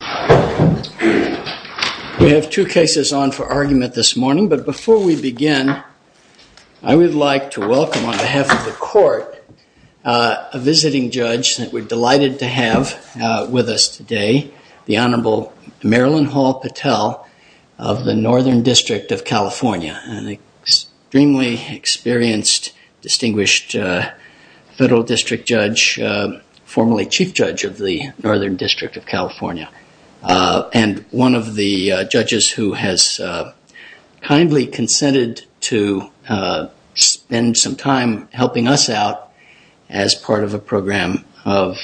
We have two cases on for argument this morning, but before we begin, I would like to welcome on behalf of the Court a visiting judge that we're delighted to have with us today, the Honorable Marilyn Hall Patel of the Northern District of California, an extremely experienced distinguished federal district judge, formerly chief judge of the Northern District of California, and one of the judges who has kindly consented to spend some time helping us out as part of a program of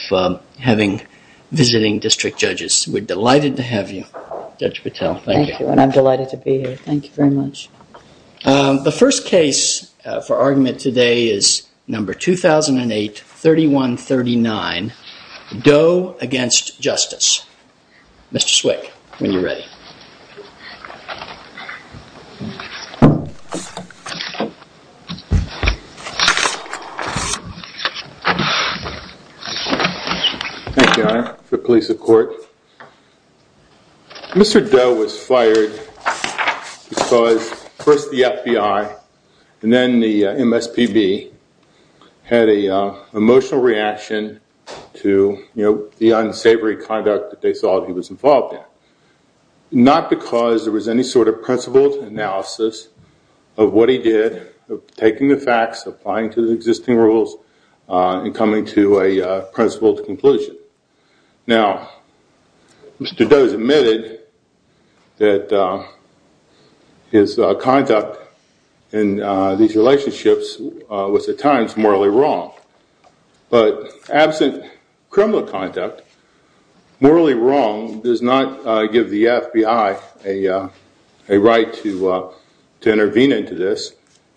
having visiting district judges. We're delighted to have you, Judge Patel. Thank you, and I'm delighted to be here. Thank you very much. The first case for argument today is number 2008-3139, Doe v. Justice. Mr. Swick, when you're ready. Thank you, Your Honor, for the police of court. Mr. Doe was fired because first the FBI and then the MSPB had an emotional reaction to the unsavory conduct that they thought he was involved in. Not because there was any sort of principled analysis of what he did, taking the facts, applying to the existing rules, and coming to a principled conclusion. Now, Mr. Doe has admitted that his conduct in these relationships was at times morally wrong. But absent criminal conduct, morally wrong does not give the FBI a right to intervene into this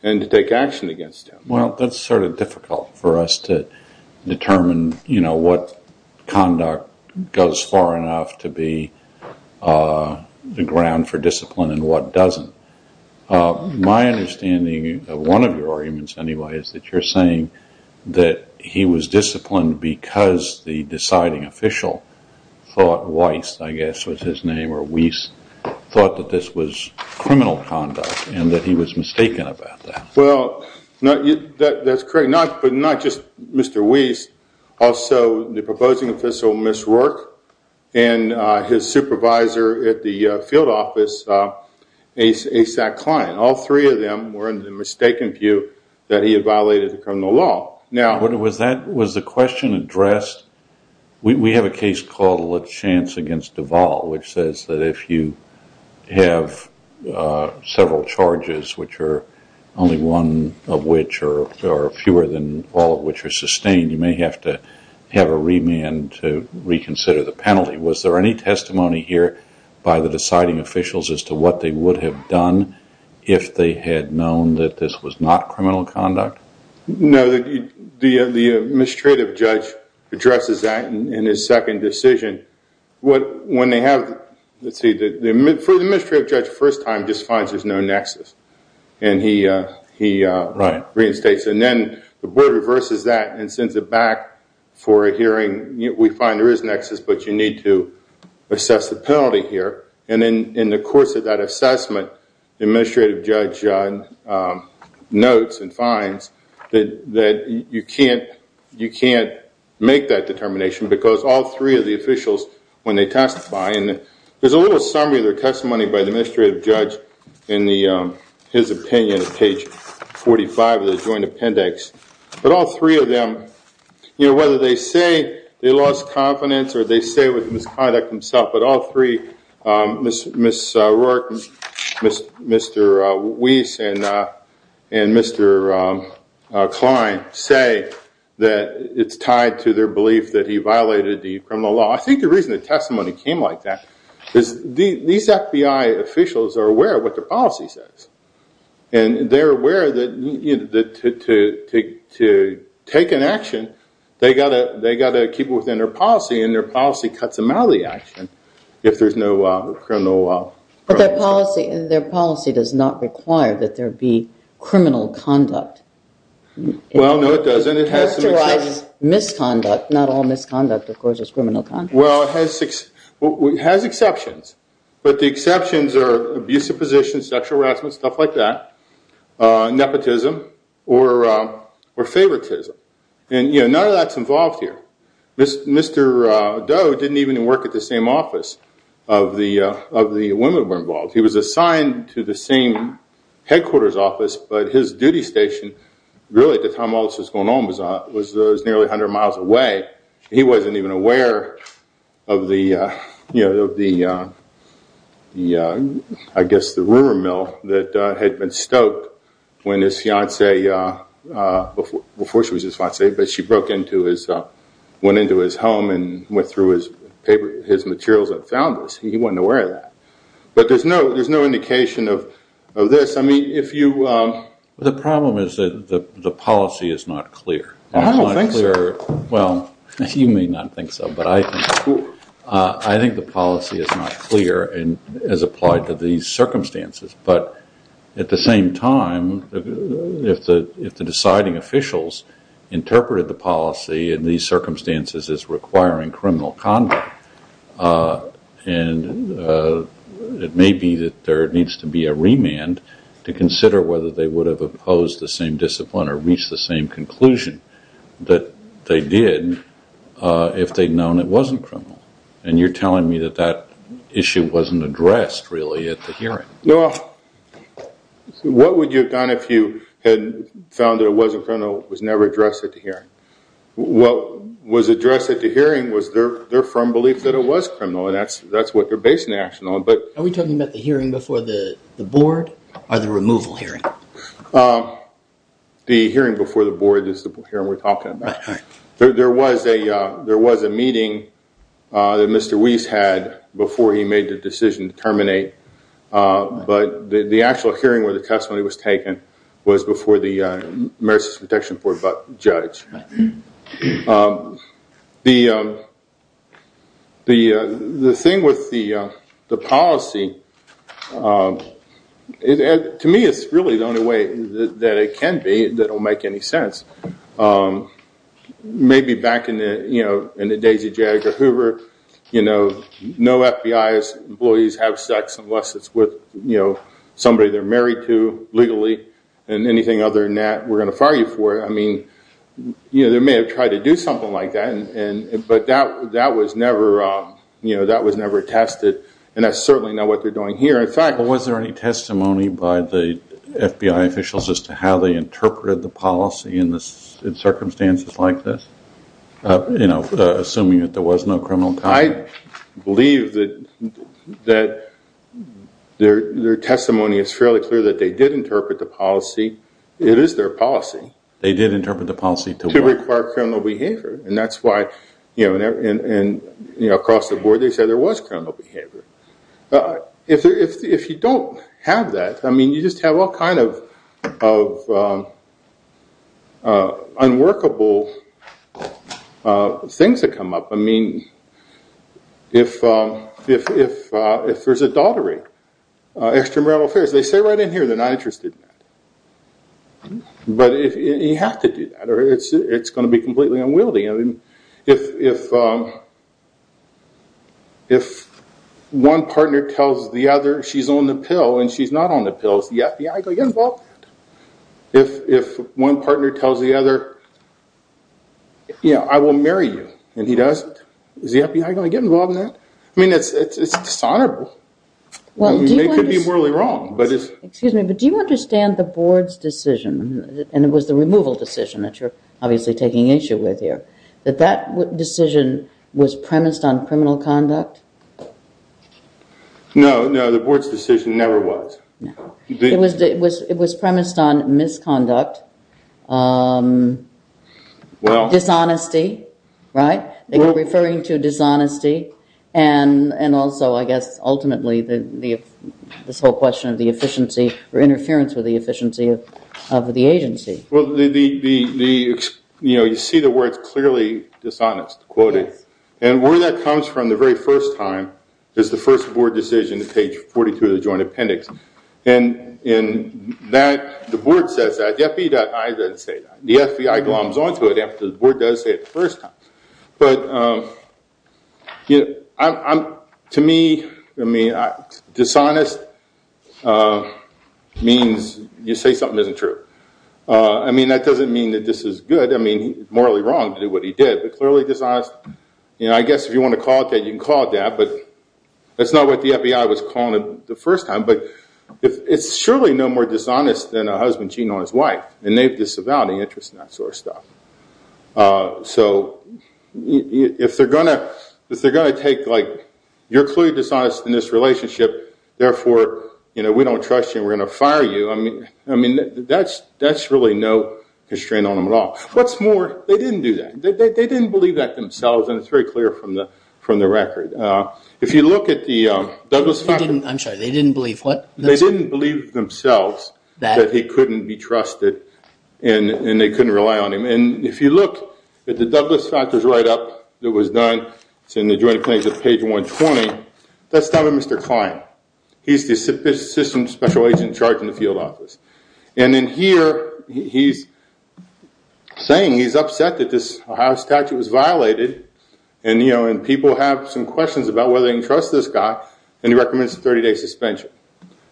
and to take action against him. Well, that's sort of difficult for us to determine what conduct goes far enough to be the ground for discipline and what doesn't. My understanding of one of your arguments, anyway, is that you're saying that he was disciplined because the deciding official thought Weiss, I guess was his name, or Weiss thought that this was criminal conduct and that he was mistaken about that. Well, that's correct. But not just Mr. Weiss, also the proposing official, Ms. Rourke, and his supervisor at the field office, A. Sack Cline, all three of them were in the mistaken view that he had violated the criminal law. Was the question addressed, we have a case called La Chance against Duval, which says that if you have several charges, which are only one of which are fewer than all of which are sustained, you may have to have a remand to reconsider the penalty. Was there any testimony here by the deciding officials as to what they would have done if they had known that this was not criminal conduct? No, the administrative judge addresses that in his second decision. When they have, let's see, the administrative judge the first time just finds there's no nexus and he reinstates it. And then the board reverses that and sends it back for a hearing, we find there is a nexus, but you need to assess the penalty here. And then in the course of that assessment, the administrative judge notes and finds that you can't make that determination because all three of the officials, when they testify, and there's a little summary of their testimony by the administrative judge in his opinion at page 45 of the joint appendix, but all three of them, whether they say they lost confidence or they say it was misconduct themselves, but all three, Mr. Rourke, Mr. Weiss, and Mr. Klein, say that it's tied to their belief that he violated the criminal law. I think the reason the testimony came like that is these FBI officials are aware of what their policy says. And they're aware that to take an action, they've got to keep it within their policy and their policy cuts them out of the action if there's no criminal... But their policy does not require that there be criminal conduct. Well, no, it doesn't. Characterized misconduct, not all misconduct, of course, is criminal conduct. Well, it has exceptions. But the exceptions are abusive positions, sexual harassment, stuff like that, nepotism, or favoritism. And none of that's involved here. Mr. Doe didn't even work at the same office of the women who were involved. He was assigned to the same headquarters office, but his duty station, really at the time all this was going on, was nearly 100 miles away. He wasn't even aware of the, I guess, the rumor mill that had been stoked when his fiancée, before she was his fiancée, but she went into his home and went through his materials and found this. He wasn't aware of that. But there's no indication of this. The problem is that the policy is not clear. Oh, I don't think so. Well, you may not think so, but I think the policy is not clear as applied to these circumstances. But at the same time, if the deciding officials interpreted the policy in these circumstances as requiring criminal conduct, and it may be that there needs to be a remand to consider whether they would have opposed the same discipline or reached the same conclusion that they did if they'd known it wasn't criminal. And you're telling me that that issue wasn't addressed, really, at the hearing. Well, what would you have done if you had found that it wasn't criminal, it was never addressed at the hearing? What was addressed at the hearing was their firm belief that it was criminal, and that's what they're basing the action on. Are we talking about the hearing before the board or the removal hearing? The hearing before the board is the hearing we're talking about. There was a meeting that Mr. Weiss had before he made the decision to terminate, but the actual hearing where the testimony was taken was before the Marist Protection Board judge. The thing with the policy, to me it's really the only way that it can be that will make any sense. Maybe back in the days of J. Edgar Hoover, no FBI employees have sex unless it's with somebody they're married to legally, and anything other than that we're going to fire you for it. They may have tried to do something like that, but that was never tested, and that's certainly not what they're doing here. Was there any testimony by the FBI officials as to how they interpreted the policy in circumstances like this? Assuming that there was no criminal conduct. I believe that their testimony is fairly clear that they did interpret the policy. It is their policy. They did interpret the policy to what? To require criminal behavior, and that's why across the board they said there was criminal behavior. If you don't have that, you just have all kinds of unworkable things that come up. If there's adultery, extramarital affairs, they say right in here they're not interested in that, but you have to do that or it's going to be completely unwieldy. If one partner tells the other she's on the pill and she's not on the pill, is the FBI going to get involved? If one partner tells the other I will marry you and he doesn't, is the FBI going to get involved in that? It's dishonorable. They could be morally wrong. Do you understand the board's decision, and it was the removal decision that you're obviously taking issue with here, that that decision was premised on criminal conduct? No, the board's decision never was. It was premised on misconduct, dishonesty, right? Interference with the efficiency of the agency. You see the words clearly, dishonest, quoted. Where that comes from the very first time is the first board decision, page 42 of the joint appendix. The board says that. The FBI doesn't say that. The FBI gloms on to it after the board does say it the first time. To me, dishonest means you say something isn't true. That doesn't mean that this is good, morally wrong to do what he did, but clearly dishonest, I guess if you want to call it that you can call it that, but that's not what the FBI was calling it the first time. But it's surely no more dishonest than a husband cheating on his wife, and they have disavowed any interest in that sort of stuff. So if they're going to take, like, you're clearly dishonest in this relationship, therefore we don't trust you and we're going to fire you. I mean, that's really no constraint on them at all. What's more, they didn't do that. They didn't believe that themselves, and it's very clear from the record. If you look at the Douglas- I'm sorry, they didn't believe what? That he couldn't be trusted and they couldn't rely on him. And if you look at the Douglas-Factors write-up that was done, it's in the Joint Appointments at page 120, that's done by Mr. Klein. He's the assistant special agent in charge in the field office. And in here, he's saying he's upset that this Ohio statute was violated, and people have some questions about whether they can trust this guy, and he recommends a 30-day suspension.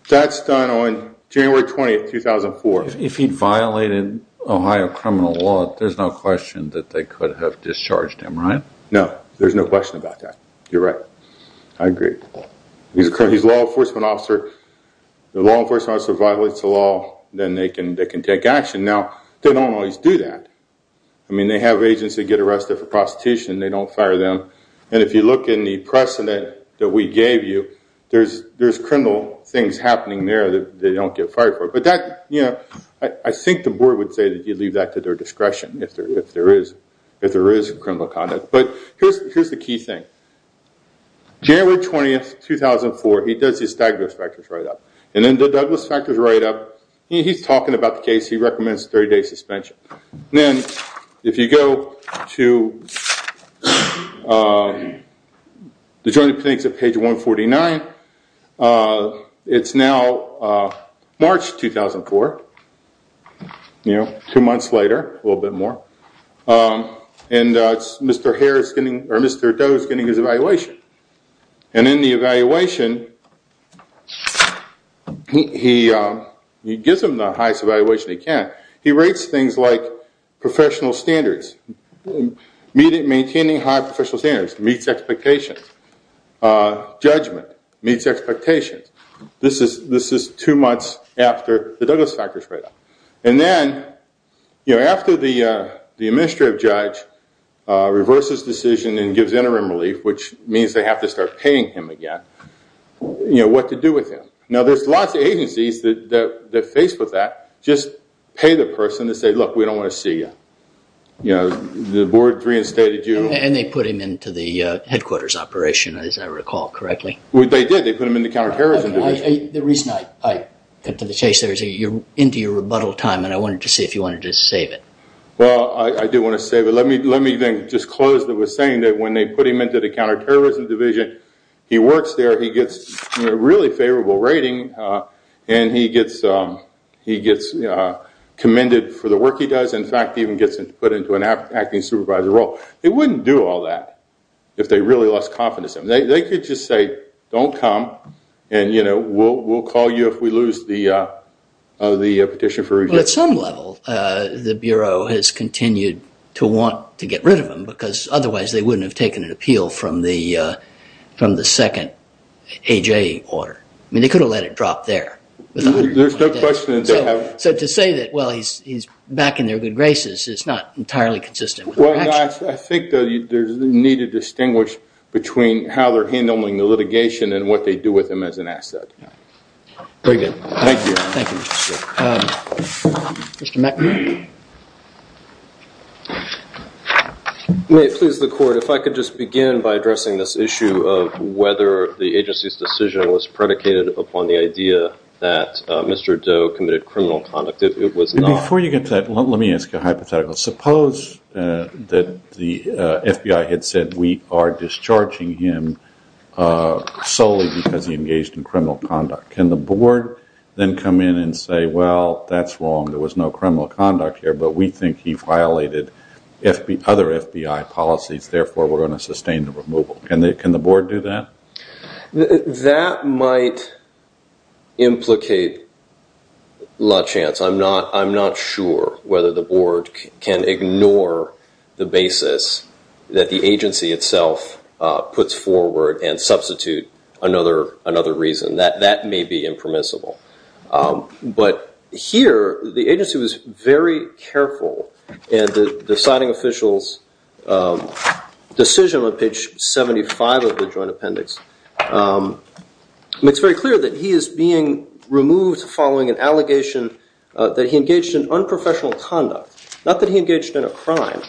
That's done on January 20, 2004. If he violated Ohio criminal law, there's no question that they could have discharged him, right? No, there's no question about that. You're right. I agree. He's a law enforcement officer. The law enforcement officer violates the law, then they can take action. Now, they don't always do that. I mean, they have agents that get arrested for prostitution. They don't fire them. And if you look in the precedent that we gave you, there's criminal things happening there that they don't get fired for. But I think the board would say that you leave that to their discretion if there is criminal conduct. But here's the key thing. January 20, 2004, he does his Douglas-Factors write-up. And in the Douglas-Factors write-up, he's talking about the case he recommends 30-day suspension. Then, if you go to the Joint Appendix at page 149, it's now March 2004, two months later, a little bit more, and Mr. Doe is getting his evaluation. And in the evaluation, he gives him the highest evaluation he can. He rates things like professional standards. Maintaining high professional standards meets expectations. Judgment meets expectations. This is two months after the Douglas-Factors write-up. And then, after the administrative judge reverses the decision and gives interim relief, which means they have to start paying him again, what to do with him? Now, there's lots of agencies that face with that. Just pay the person to say, look, we don't want to see you. The board reinstated you. And they put him into the headquarters operation, as I recall, correctly? They did. They put him in the counterterrorism division. The reason I cut to the chase there is you're into your rebuttal time, and I wanted to see if you wanted to save it. Well, I do want to save it. Let me then disclose that we're saying that when they put him into the counterterrorism division, he works there, he gets a really favorable rating, and he gets commended for the work he does. In fact, he even gets put into an acting supervisor role. They wouldn't do all that if they really lost confidence in him. They could just say, don't come, and we'll call you if we lose the petition for review. Well, at some level, the Bureau has continued to want to get rid of him because otherwise they wouldn't have taken an appeal from the second AJ order. I mean, they could have let it drop there. There's no question that they have. So to say that, well, he's back in their good graces is not entirely consistent. Well, I think there's a need to distinguish between how they're handling the litigation and what they do with him as an asset. Very good. Thank you. Thank you, Mr. Stewart. Mr. McNamara. May it please the court, if I could just begin by addressing this issue of whether the agency's decision was predicated upon the idea that Mr. Doe committed criminal conduct. Before you get to that, let me ask you a hypothetical. Suppose that the FBI had said we are discharging him solely because he engaged in criminal conduct. Can the board then come in and say, well, that's wrong. There was no criminal conduct here, but we think he violated other FBI policies. Therefore, we're going to sustain the removal. Can the board do that? That might implicate la chance. I'm not sure whether the board can ignore the basis that the agency itself puts forward and substitute another reason. That may be impermissible. But here, the agency was very careful in the deciding official's decision on page 75 of the joint appendix. It's very clear that he is being removed following an allegation that he engaged in unprofessional conduct, not that he engaged in a crime.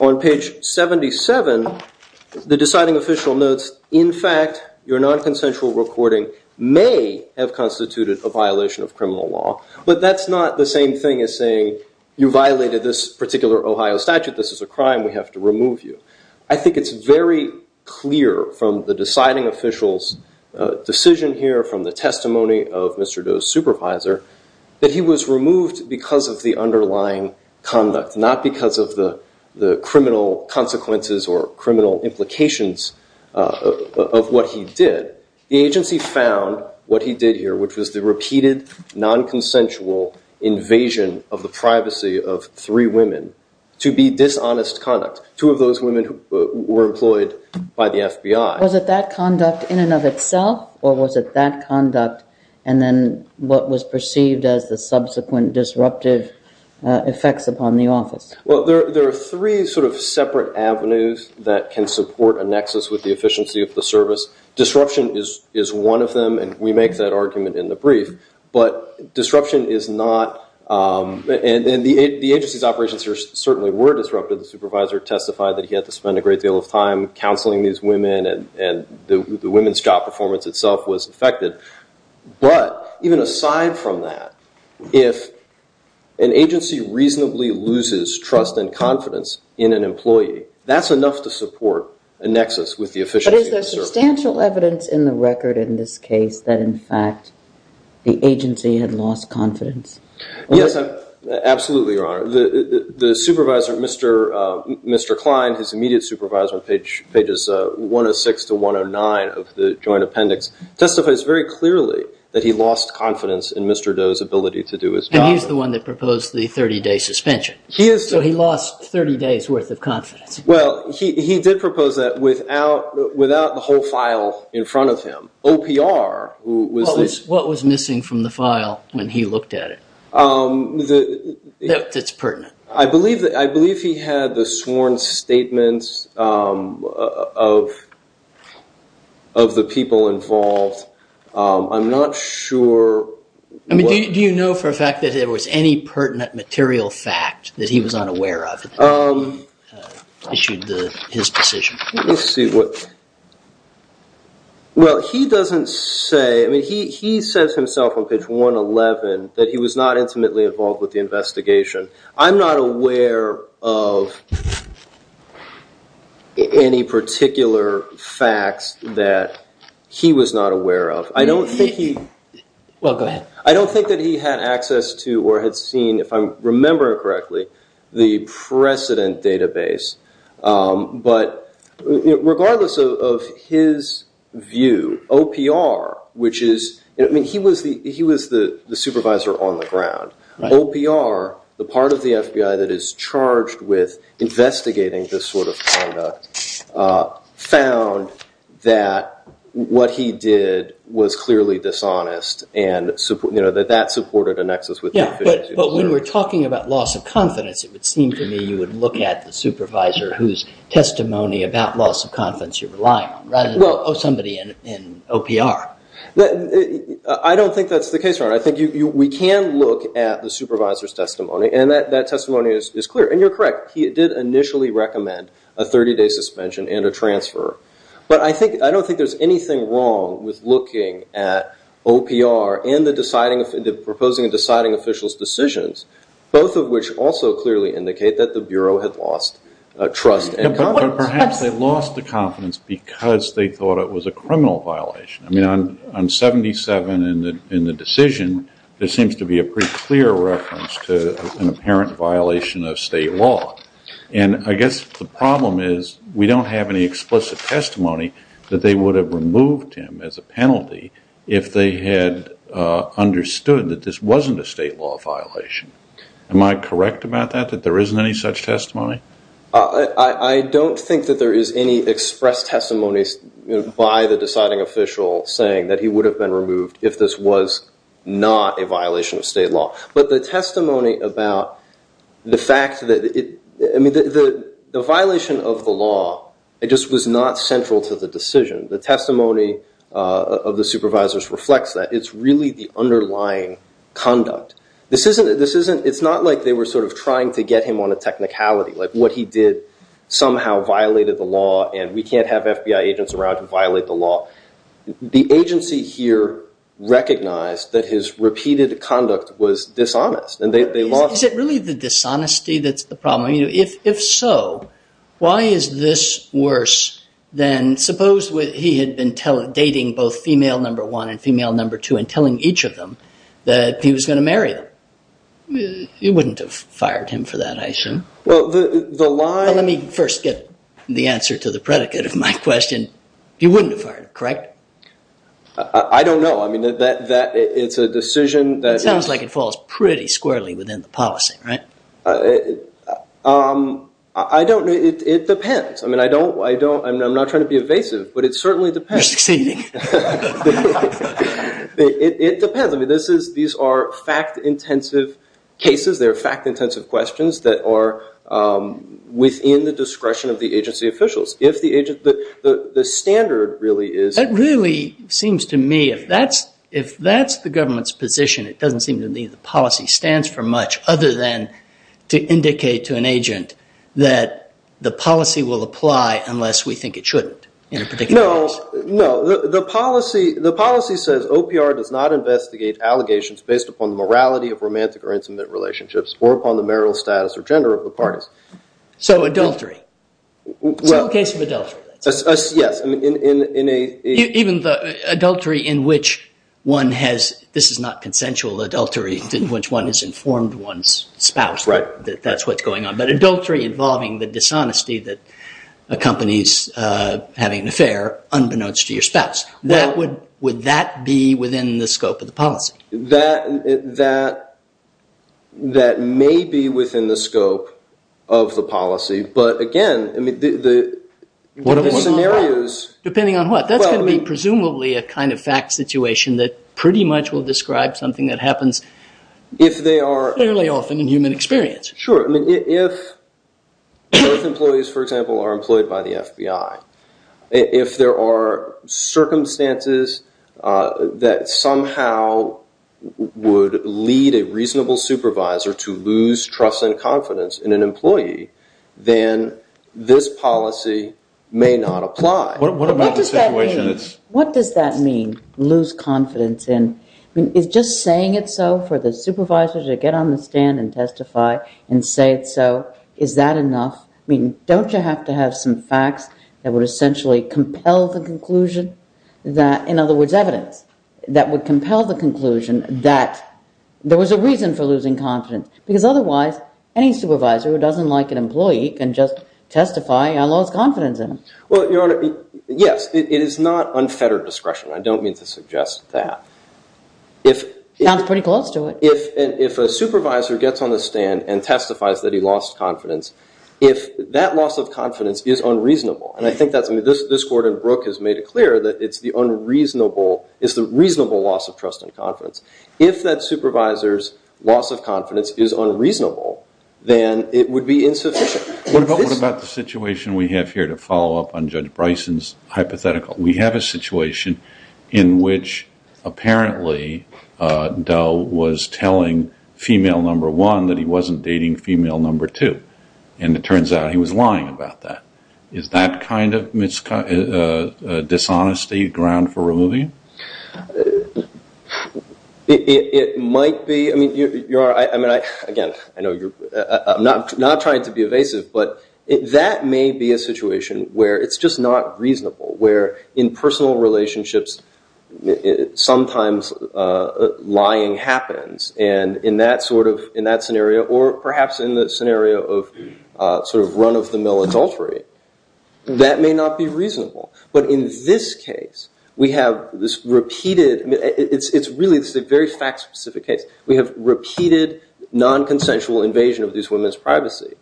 On page 77, the deciding official notes, in fact, your nonconsensual recording may have constituted a violation of criminal law. But that's not the same thing as saying you violated this particular Ohio statute. This is a crime. We have to remove you. I think it's very clear from the deciding official's decision here, from the testimony of Mr. Doe's supervisor, that he was removed because of the underlying conduct, not because of the criminal consequences or criminal implications of what he did. The agency found what he did here, which was the repeated nonconsensual invasion of the privacy of three women, to be dishonest conduct. Two of those women were employed by the FBI. Was it that conduct in and of itself, or was it that conduct and then what was perceived as the subsequent disruptive effects upon the office? Well, there are three sort of separate avenues that can support a nexus with the efficiency of the service. Disruption is one of them, and we make that argument in the brief. But disruption is not, and the agency's operations certainly were disrupted. The supervisor testified that he had to spend a great deal of time counseling these women, and the women's job performance itself was affected. But even aside from that, if an agency reasonably loses trust and confidence in an employee, that's enough to support a nexus with the efficiency of the service. Is there substantial evidence in the record in this case that, in fact, the agency had lost confidence? Yes, absolutely, Your Honor. The supervisor, Mr. Klein, his immediate supervisor on pages 106 to 109 of the joint appendix, testifies very clearly that he lost confidence in Mr. Doe's ability to do his job. And he's the one that proposed the 30-day suspension. He is. So he lost 30 days' worth of confidence. Well, he did propose that without the whole file in front of him. OPR was the- What was missing from the file when he looked at it that's pertinent? I believe he had the sworn statements of the people involved. I'm not sure- Do you know for a fact that there was any pertinent material fact that he was unaware of? Issued his position. Let me see what- Well, he doesn't say- I mean, he says himself on page 111 that he was not intimately involved with the investigation. I'm not aware of any particular facts that he was not aware of. I don't think he- Well, go ahead. I don't think that he had access to or had seen, if I'm remembering correctly, the precedent database. But regardless of his view, OPR, which is- I mean, he was the supervisor on the ground. OPR, the part of the FBI that is charged with investigating this sort of conduct, found that what he did was clearly dishonest and that that supported a nexus with- Yeah, but when we're talking about loss of confidence, it would seem to me you would look at the supervisor whose testimony about loss of confidence you're relying on rather than somebody in OPR. I don't think that's the case, Ron. I think we can look at the supervisor's testimony, and that testimony is clear. And you're correct. He did initially recommend a 30-day suspension and a transfer. But I don't think there's anything wrong with looking at OPR and the proposing and deciding officials' decisions, both of which also clearly indicate that the Bureau had lost trust and confidence. But perhaps they lost the confidence because they thought it was a criminal violation. I mean, on 77 in the decision, there seems to be a pretty clear reference to an apparent violation of state law. And I guess the problem is we don't have any explicit testimony that they would have removed him as a penalty if they had understood that this wasn't a state law violation. Am I correct about that, that there isn't any such testimony? I don't think that there is any expressed testimony by the deciding official saying that he would have been removed if this was not a violation of state law. But the testimony about the fact that it – I mean, the violation of the law, it just was not central to the decision. The testimony of the supervisors reflects that. It's really the underlying conduct. It's not like they were sort of trying to get him on a technicality, like what he did somehow violated the law and we can't have FBI agents around to violate the law. The agency here recognized that his repeated conduct was dishonest. Is it really the dishonesty that's the problem? If so, why is this worse than suppose he had been dating both female number one and female number two and telling each of them that he was going to marry them? You wouldn't have fired him for that, I assume. Well, the line – Let me first get the answer to the predicate of my question. You wouldn't have fired him, correct? I don't know. I mean, that – it's a decision that – It sounds like it falls pretty squarely within the policy, right? I don't – it depends. I mean, I don't – I'm not trying to be evasive, but it certainly depends. You're succeeding. It depends. I mean, these are fact-intensive cases. They're fact-intensive questions that are within the discretion of the agency officials. If the agent – the standard really is – That really seems to me, if that's the government's position, it doesn't seem to me the policy stands for much other than to indicate to an agent that the policy will apply unless we think it shouldn't in a particular case. No, no. The policy says OPR does not investigate allegations based upon the morality of romantic or intimate relationships or upon the marital status or gender of the parties. So adultery. Well – Some case of adultery. Yes. I mean, in a – Even the adultery in which one has – this is not consensual adultery, in which one has informed one's spouse that that's what's going on. But adultery involving the dishonesty that accompanies having an affair unbeknownst to your spouse. Would that be within the scope of the policy? That may be within the scope of the policy, but again, the scenarios – Depending on what? That's going to be presumably a kind of fact situation that pretty much will describe something that happens – If they are – Fairly often in human experience. Sure. I mean, if both employees, for example, are employed by the FBI, if there are circumstances that somehow would lead a reasonable supervisor to lose trust and confidence in an employee, then this policy may not apply. What about the situation that's – What does that mean, lose confidence in – I mean, is just saying it so for the supervisor to get on the stand and testify and say it so, is that enough? I mean, don't you have to have some facts that would essentially compel the conclusion that – in other words, evidence that would compel the conclusion that there was a reason for losing confidence? Because otherwise, any supervisor who doesn't like an employee can just testify and lose confidence in them. Well, Your Honor, yes. It is not unfettered discretion. I don't mean to suggest that. Sounds pretty close to it. If a supervisor gets on the stand and testifies that he lost confidence, if that loss of confidence is unreasonable, and I think that's – I mean, this Court in Brooke has made it clear that it's the unreasonable – it's the reasonable loss of trust and confidence. If that supervisor's loss of confidence is unreasonable, then it would be insufficient. What about the situation we have here to follow up on Judge Bryson's hypothetical? We have a situation in which apparently Doe was telling female number one that he wasn't dating female number two, and it turns out he was lying about that. Is that kind of dishonesty ground for removing? It might be. I mean, Your Honor, again, I know you're – I'm not trying to be evasive, but that may be a situation where it's just not reasonable, where in personal relationships sometimes lying happens, and in that sort of – in that scenario, or perhaps in the scenario of sort of run-of-the-mill adultery, that may not be reasonable. But in this case, we have this repeated – I mean, it's really – this is a very fact-specific case. We have repeated nonconsensual invasion of these women's privacy,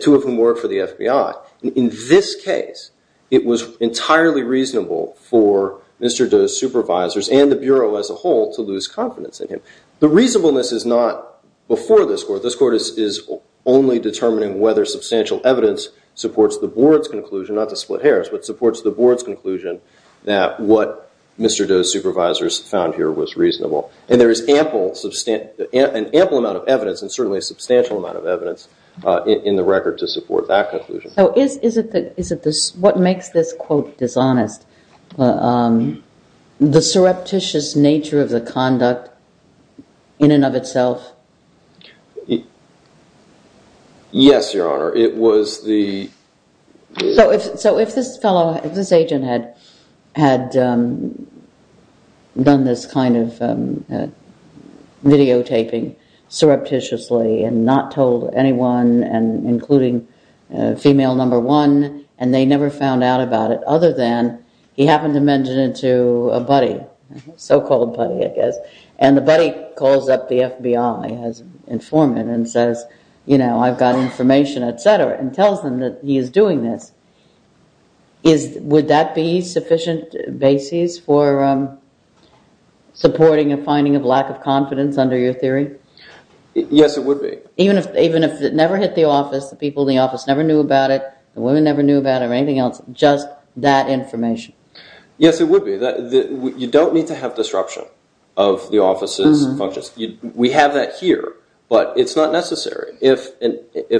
two of whom work for the FBI. In this case, it was entirely reasonable for Mr. Doe's supervisors and the Bureau as a whole to lose confidence in him. The reasonableness is not before this Court. This Court is only determining whether substantial evidence supports the Board's conclusion – not to split hairs, but supports the Board's conclusion that what Mr. Doe's supervisors found here was reasonable. And there is ample – an ample amount of evidence, and certainly a substantial amount of evidence in the record to support that conclusion. So is it the – what makes this quote dishonest, the surreptitious nature of the conduct in and of itself? Yes, Your Honor. So if this fellow – if this agent had done this kind of videotaping surreptitiously and not told anyone, including female number one, and they never found out about it, other than he happened to mention it to a buddy – so-called buddy, I guess – and the buddy calls up the FBI as informant and says, you know, I've got information, et cetera, and tells them that he is doing this, is – would that be sufficient basis for supporting a finding of lack of confidence under your theory? Yes, it would be. Even if it never hit the office, the people in the office never knew about it, the women never knew about it or anything else, just that information? Yes, it would be. You don't need to have disruption of the office's functions. We have that here, but it's not necessary. If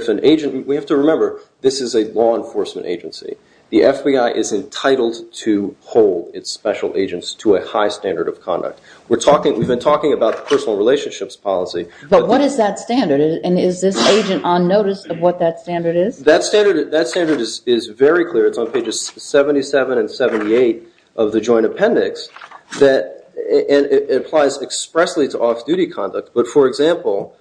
an agent – we have to remember, this is a law enforcement agency. The FBI is entitled to hold its special agents to a high standard of conduct. We're talking – we've been talking about the personal relationships policy. But what is that standard, and is this agent on notice of what that standard is? That standard is very clear. It's on pages 77 and 78 of the Joint Appendix. It applies expressly to off-duty conduct. But, for example,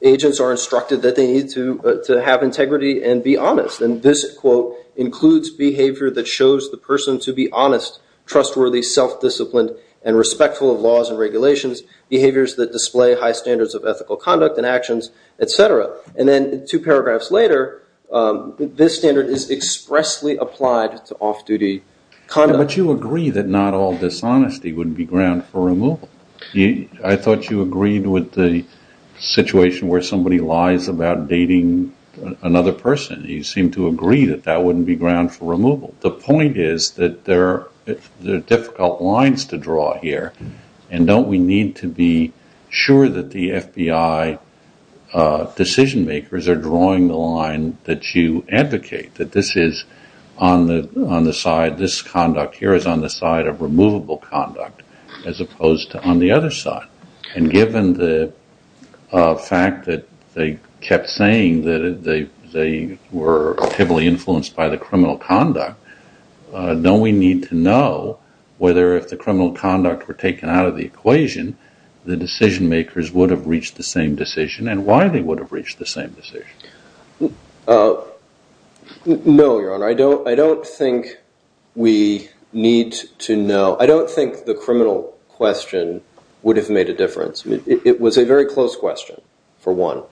agents are instructed that they need to have integrity and be honest, and this, quote, includes behavior that shows the person to be honest, trustworthy, self-disciplined, and respectful of laws and regulations, behaviors that display high standards of ethical conduct and actions, et cetera. And then two paragraphs later, this standard is expressly applied to off-duty conduct. But you agree that not all dishonesty would be ground for removal. I thought you agreed with the situation where somebody lies about dating another person. You seem to agree that that wouldn't be ground for removal. The point is that there are difficult lines to draw here, and don't we need to be sure that the FBI decision-makers are drawing the line that you advocate, that this conduct here is on the side of removable conduct as opposed to on the other side? And given the fact that they kept saying that they were heavily influenced by the criminal conduct, don't we need to know whether if the criminal conduct were taken out of the equation, the decision-makers would have reached the same decision and why they would have reached the same decision? No, Your Honor. I don't think we need to know. I don't think the criminal question would have made a difference. It was a very close question, for one.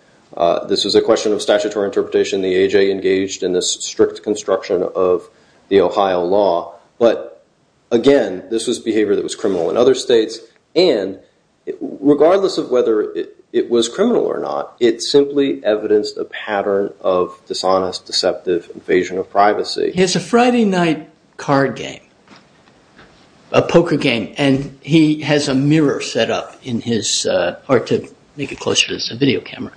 This was a question of statutory interpretation. The A.J. engaged in this strict construction of the Ohio law. But, again, this was behavior that was criminal in other states, and regardless of whether it was criminal or not, it simply evidenced a pattern of dishonest, deceptive invasion of privacy. Here's a Friday night card game, a poker game, and he has a mirror set up to make it closer to his video camera,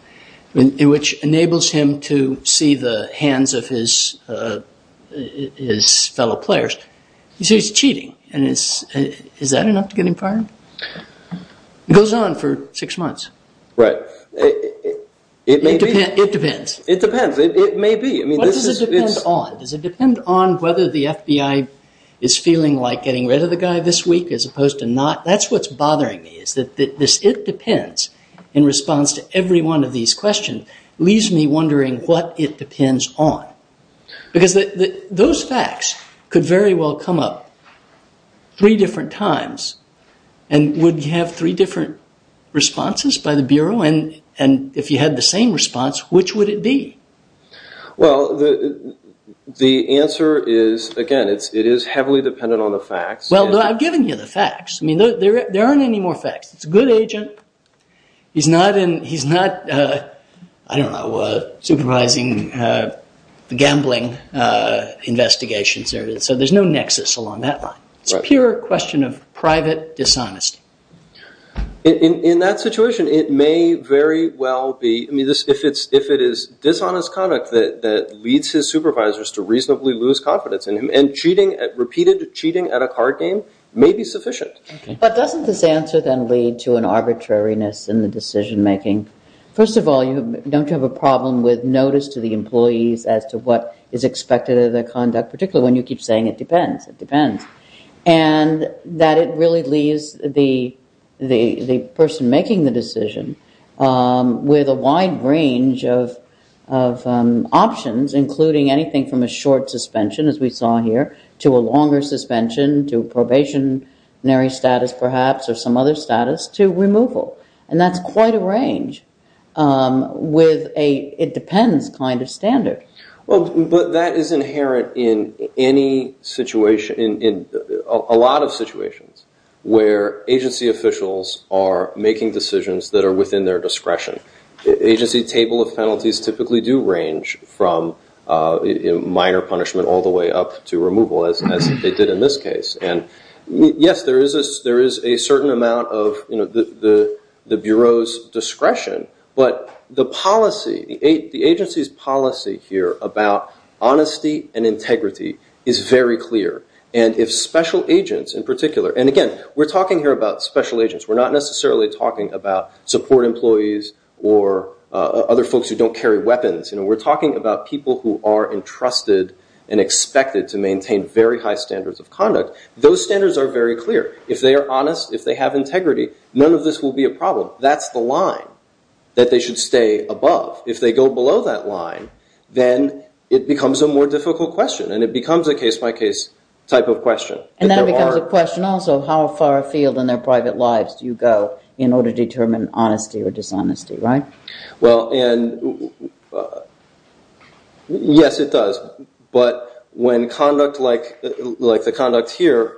which enables him to see the hands of his fellow players. You see he's cheating. Is that enough to get him fired? It goes on for six months. Right. It may be. It depends. It depends. It may be. What does it depend on? Does it depend on whether the FBI is feeling like getting rid of the guy this week, as opposed to not? That's what's bothering me is that this it depends, in response to every one of these questions, leaves me wondering what it depends on. Because those facts could very well come up three different times and would have three different responses by the Bureau, and if you had the same response, which would it be? Well, the answer is, again, it is heavily dependent on the facts. Well, I've given you the facts. There aren't any more facts. It's a good agent. He's not, I don't know, supervising the gambling investigations. So there's no nexus along that line. It's a pure question of private dishonesty. In that situation, it may very well be. If it is dishonest conduct that leads his supervisors to reasonably lose confidence in him and repeated cheating at a card game may be sufficient. But doesn't this answer then lead to an arbitrariness in the decision-making? First of all, don't you have a problem with notice to the employees as to what is expected of their conduct, particularly when you keep saying it depends? It depends. And that it really leaves the person making the decision with a wide range of options, including anything from a short suspension, as we saw here, to a longer suspension, to probationary status, perhaps, or some other status, to removal. And that's quite a range with a it-depends kind of standard. Well, but that is inherent in any situation, in a lot of situations, where agency officials are making decisions that are within their discretion. Agency table of penalties typically do range from minor punishment all the way up to removal, as they did in this case. And, yes, there is a certain amount of the Bureau's discretion, but the agency's policy here about honesty and integrity is very clear. And if special agents, in particular, and, again, we're talking here about special agents. We're not necessarily talking about support employees or other folks who don't carry weapons. We're talking about people who are entrusted and expected to maintain very high standards of conduct. Those standards are very clear. If they are honest, if they have integrity, none of this will be a problem. That's the line that they should stay above. If they go below that line, then it becomes a more difficult question, and it becomes a case-by-case type of question. And that becomes a question also of how far afield in their private lives do you go in order to determine honesty or dishonesty, right? Well, and, yes, it does. But when conduct like the conduct here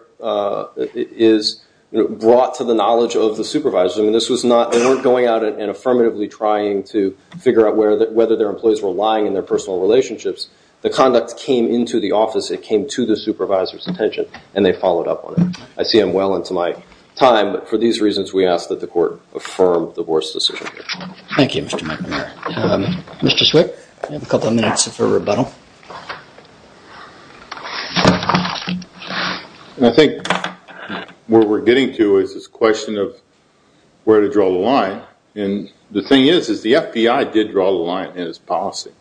is brought to the knowledge of the supervisor, I mean, this was not going out and affirmatively trying to figure out whether their employees were lying in their personal relationships. The conduct came into the office. It came to the supervisor's attention, and they followed up on it. I see I'm well into my time, but for these reasons, we ask that the Court affirm the Board's decision. Thank you, Mr. McNamara. Mr. Swick, you have a couple of minutes for rebuttal. I think what we're getting to is this question of where to draw the line. And the thing is, is the FBI did draw the line in its policy.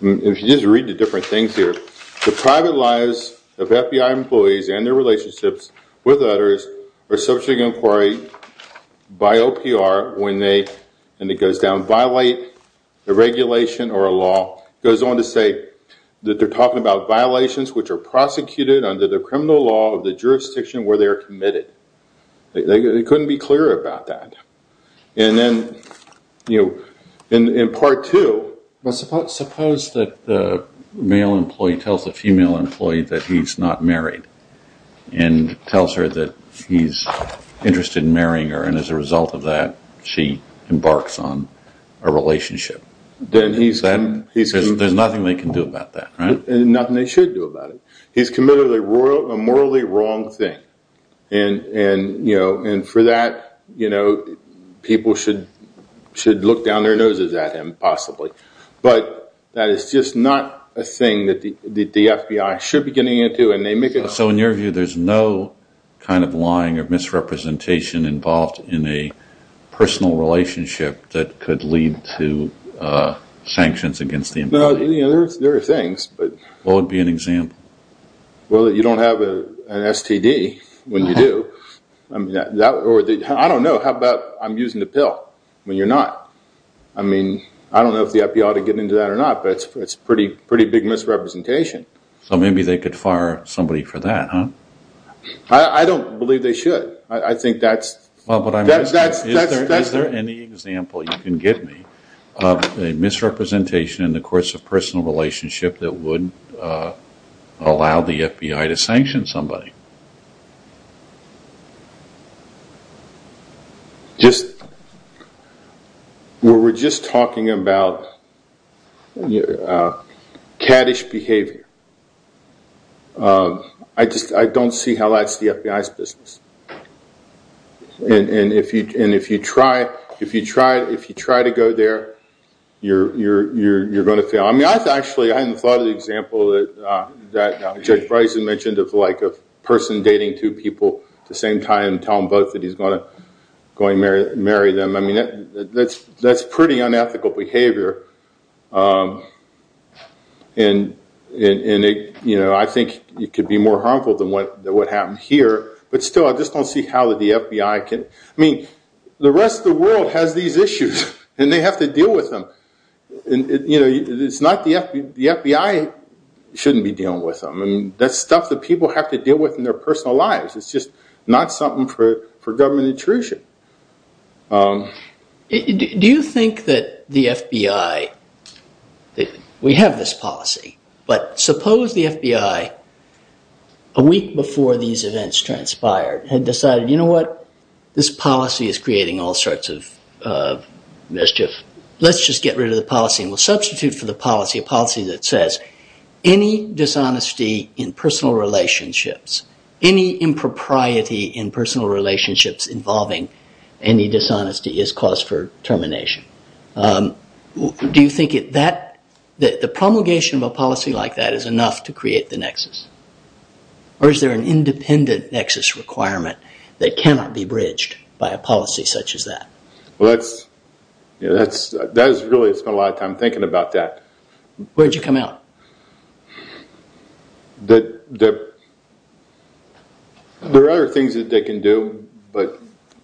If you just read the different things here, the private lives of FBI employees and their relationships with others are subject to inquiry by OPR when they, and it goes down, violate the regulation or a law. It goes on to say that they're talking about violations which are prosecuted under the criminal law of the jurisdiction where they're committed. They couldn't be clearer about that. And then, you know, in part two. Suppose that the male employee tells the female employee that he's not married and tells her that he's interested in marrying her, and as a result of that she embarks on a relationship. There's nothing they can do about that, right? Nothing they should do about it. He's committed a morally wrong thing. And for that, you know, people should look down their noses at him, possibly. But that is just not a thing that the FBI should be getting into. So in your view, there's no kind of lying or misrepresentation involved in a personal relationship that could lead to sanctions against the employee? No, there are things. What would be an example? Well, you don't have an STD when you do. I don't know. How about I'm using the pill when you're not? I mean, I don't know if the FBI ought to get into that or not, but it's a pretty big misrepresentation. So maybe they could fire somebody for that, huh? I don't believe they should. Is there any example you can give me of a misrepresentation in the course of a personal relationship that would allow the FBI to sanction somebody? We were just talking about caddish behavior. I don't see how that's the FBI's business. And if you try to go there, you're going to fail. I mean, actually, I hadn't thought of the example that Judge Bryson mentioned of like a person dating two people at the same time and tell them both that he's going to marry them. I mean, that's pretty unethical behavior. And I think it could be more harmful than what happened here. But still, I just don't see how the FBI can. I mean, the rest of the world has these issues, and they have to deal with them. The FBI shouldn't be dealing with them. I mean, that's stuff that people have to deal with in their personal lives. It's just not something for government intrusion. Do you think that the FBI – we have this policy. But suppose the FBI, a week before these events transpired, had decided, you know what, this policy is creating all sorts of mischief. Let's just get rid of the policy and we'll substitute for the policy a policy that says, any dishonesty in personal relationships, any impropriety in personal relationships involving any dishonesty is cause for termination. Do you think that the promulgation of a policy like that is enough to create the nexus? Or is there an independent nexus requirement that cannot be bridged by a policy such as that? Well, that's – really, I spent a lot of time thinking about that. Where did you come out? There are other things that they can do, but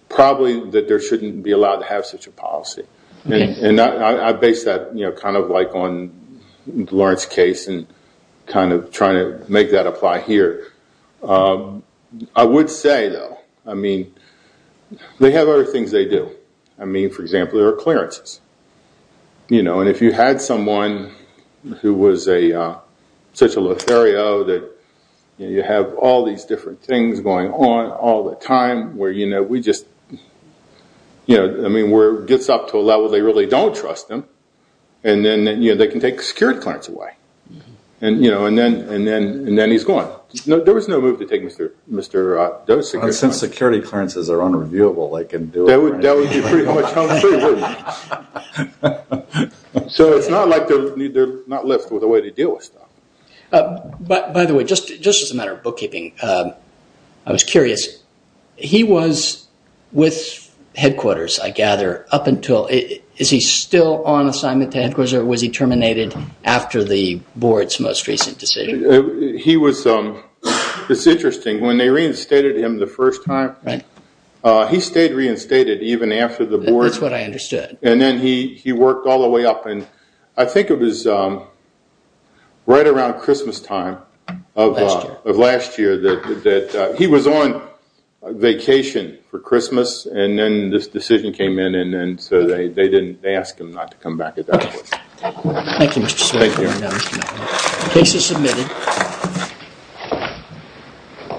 probably that there shouldn't be allowed to have such a policy. And I base that kind of like on Lawrence's case and kind of trying to make that apply here. I would say, though, I mean, they have other things they do. I mean, for example, there are clearances. And if you had someone who was such a lothario that you have all these different things going on all the time, where we just – I mean, where it gets up to a level they really don't trust them, and then they can take security clearance away. And then he's gone. There was no move to take Mr. Doe's security clearance. Well, since security clearances are unreviewable, they can do it right now. That would be pretty much commentary, wouldn't it? So it's not like they're not left with a way to deal with stuff. By the way, just as a matter of bookkeeping, I was curious. He was with headquarters, I gather, up until – is he still on assignment to headquarters or was he terminated after the board's most recent decision? He was – it's interesting. When they reinstated him the first time, he stayed reinstated even after the board. That's what I understood. And then he worked all the way up. And I think it was right around Christmastime of last year that he was on vacation for Christmas, and then this decision came in, and so they didn't – they asked him not to come back at that point. Okay. Thank you, Mr. Seward. Thank you. Case is submitted.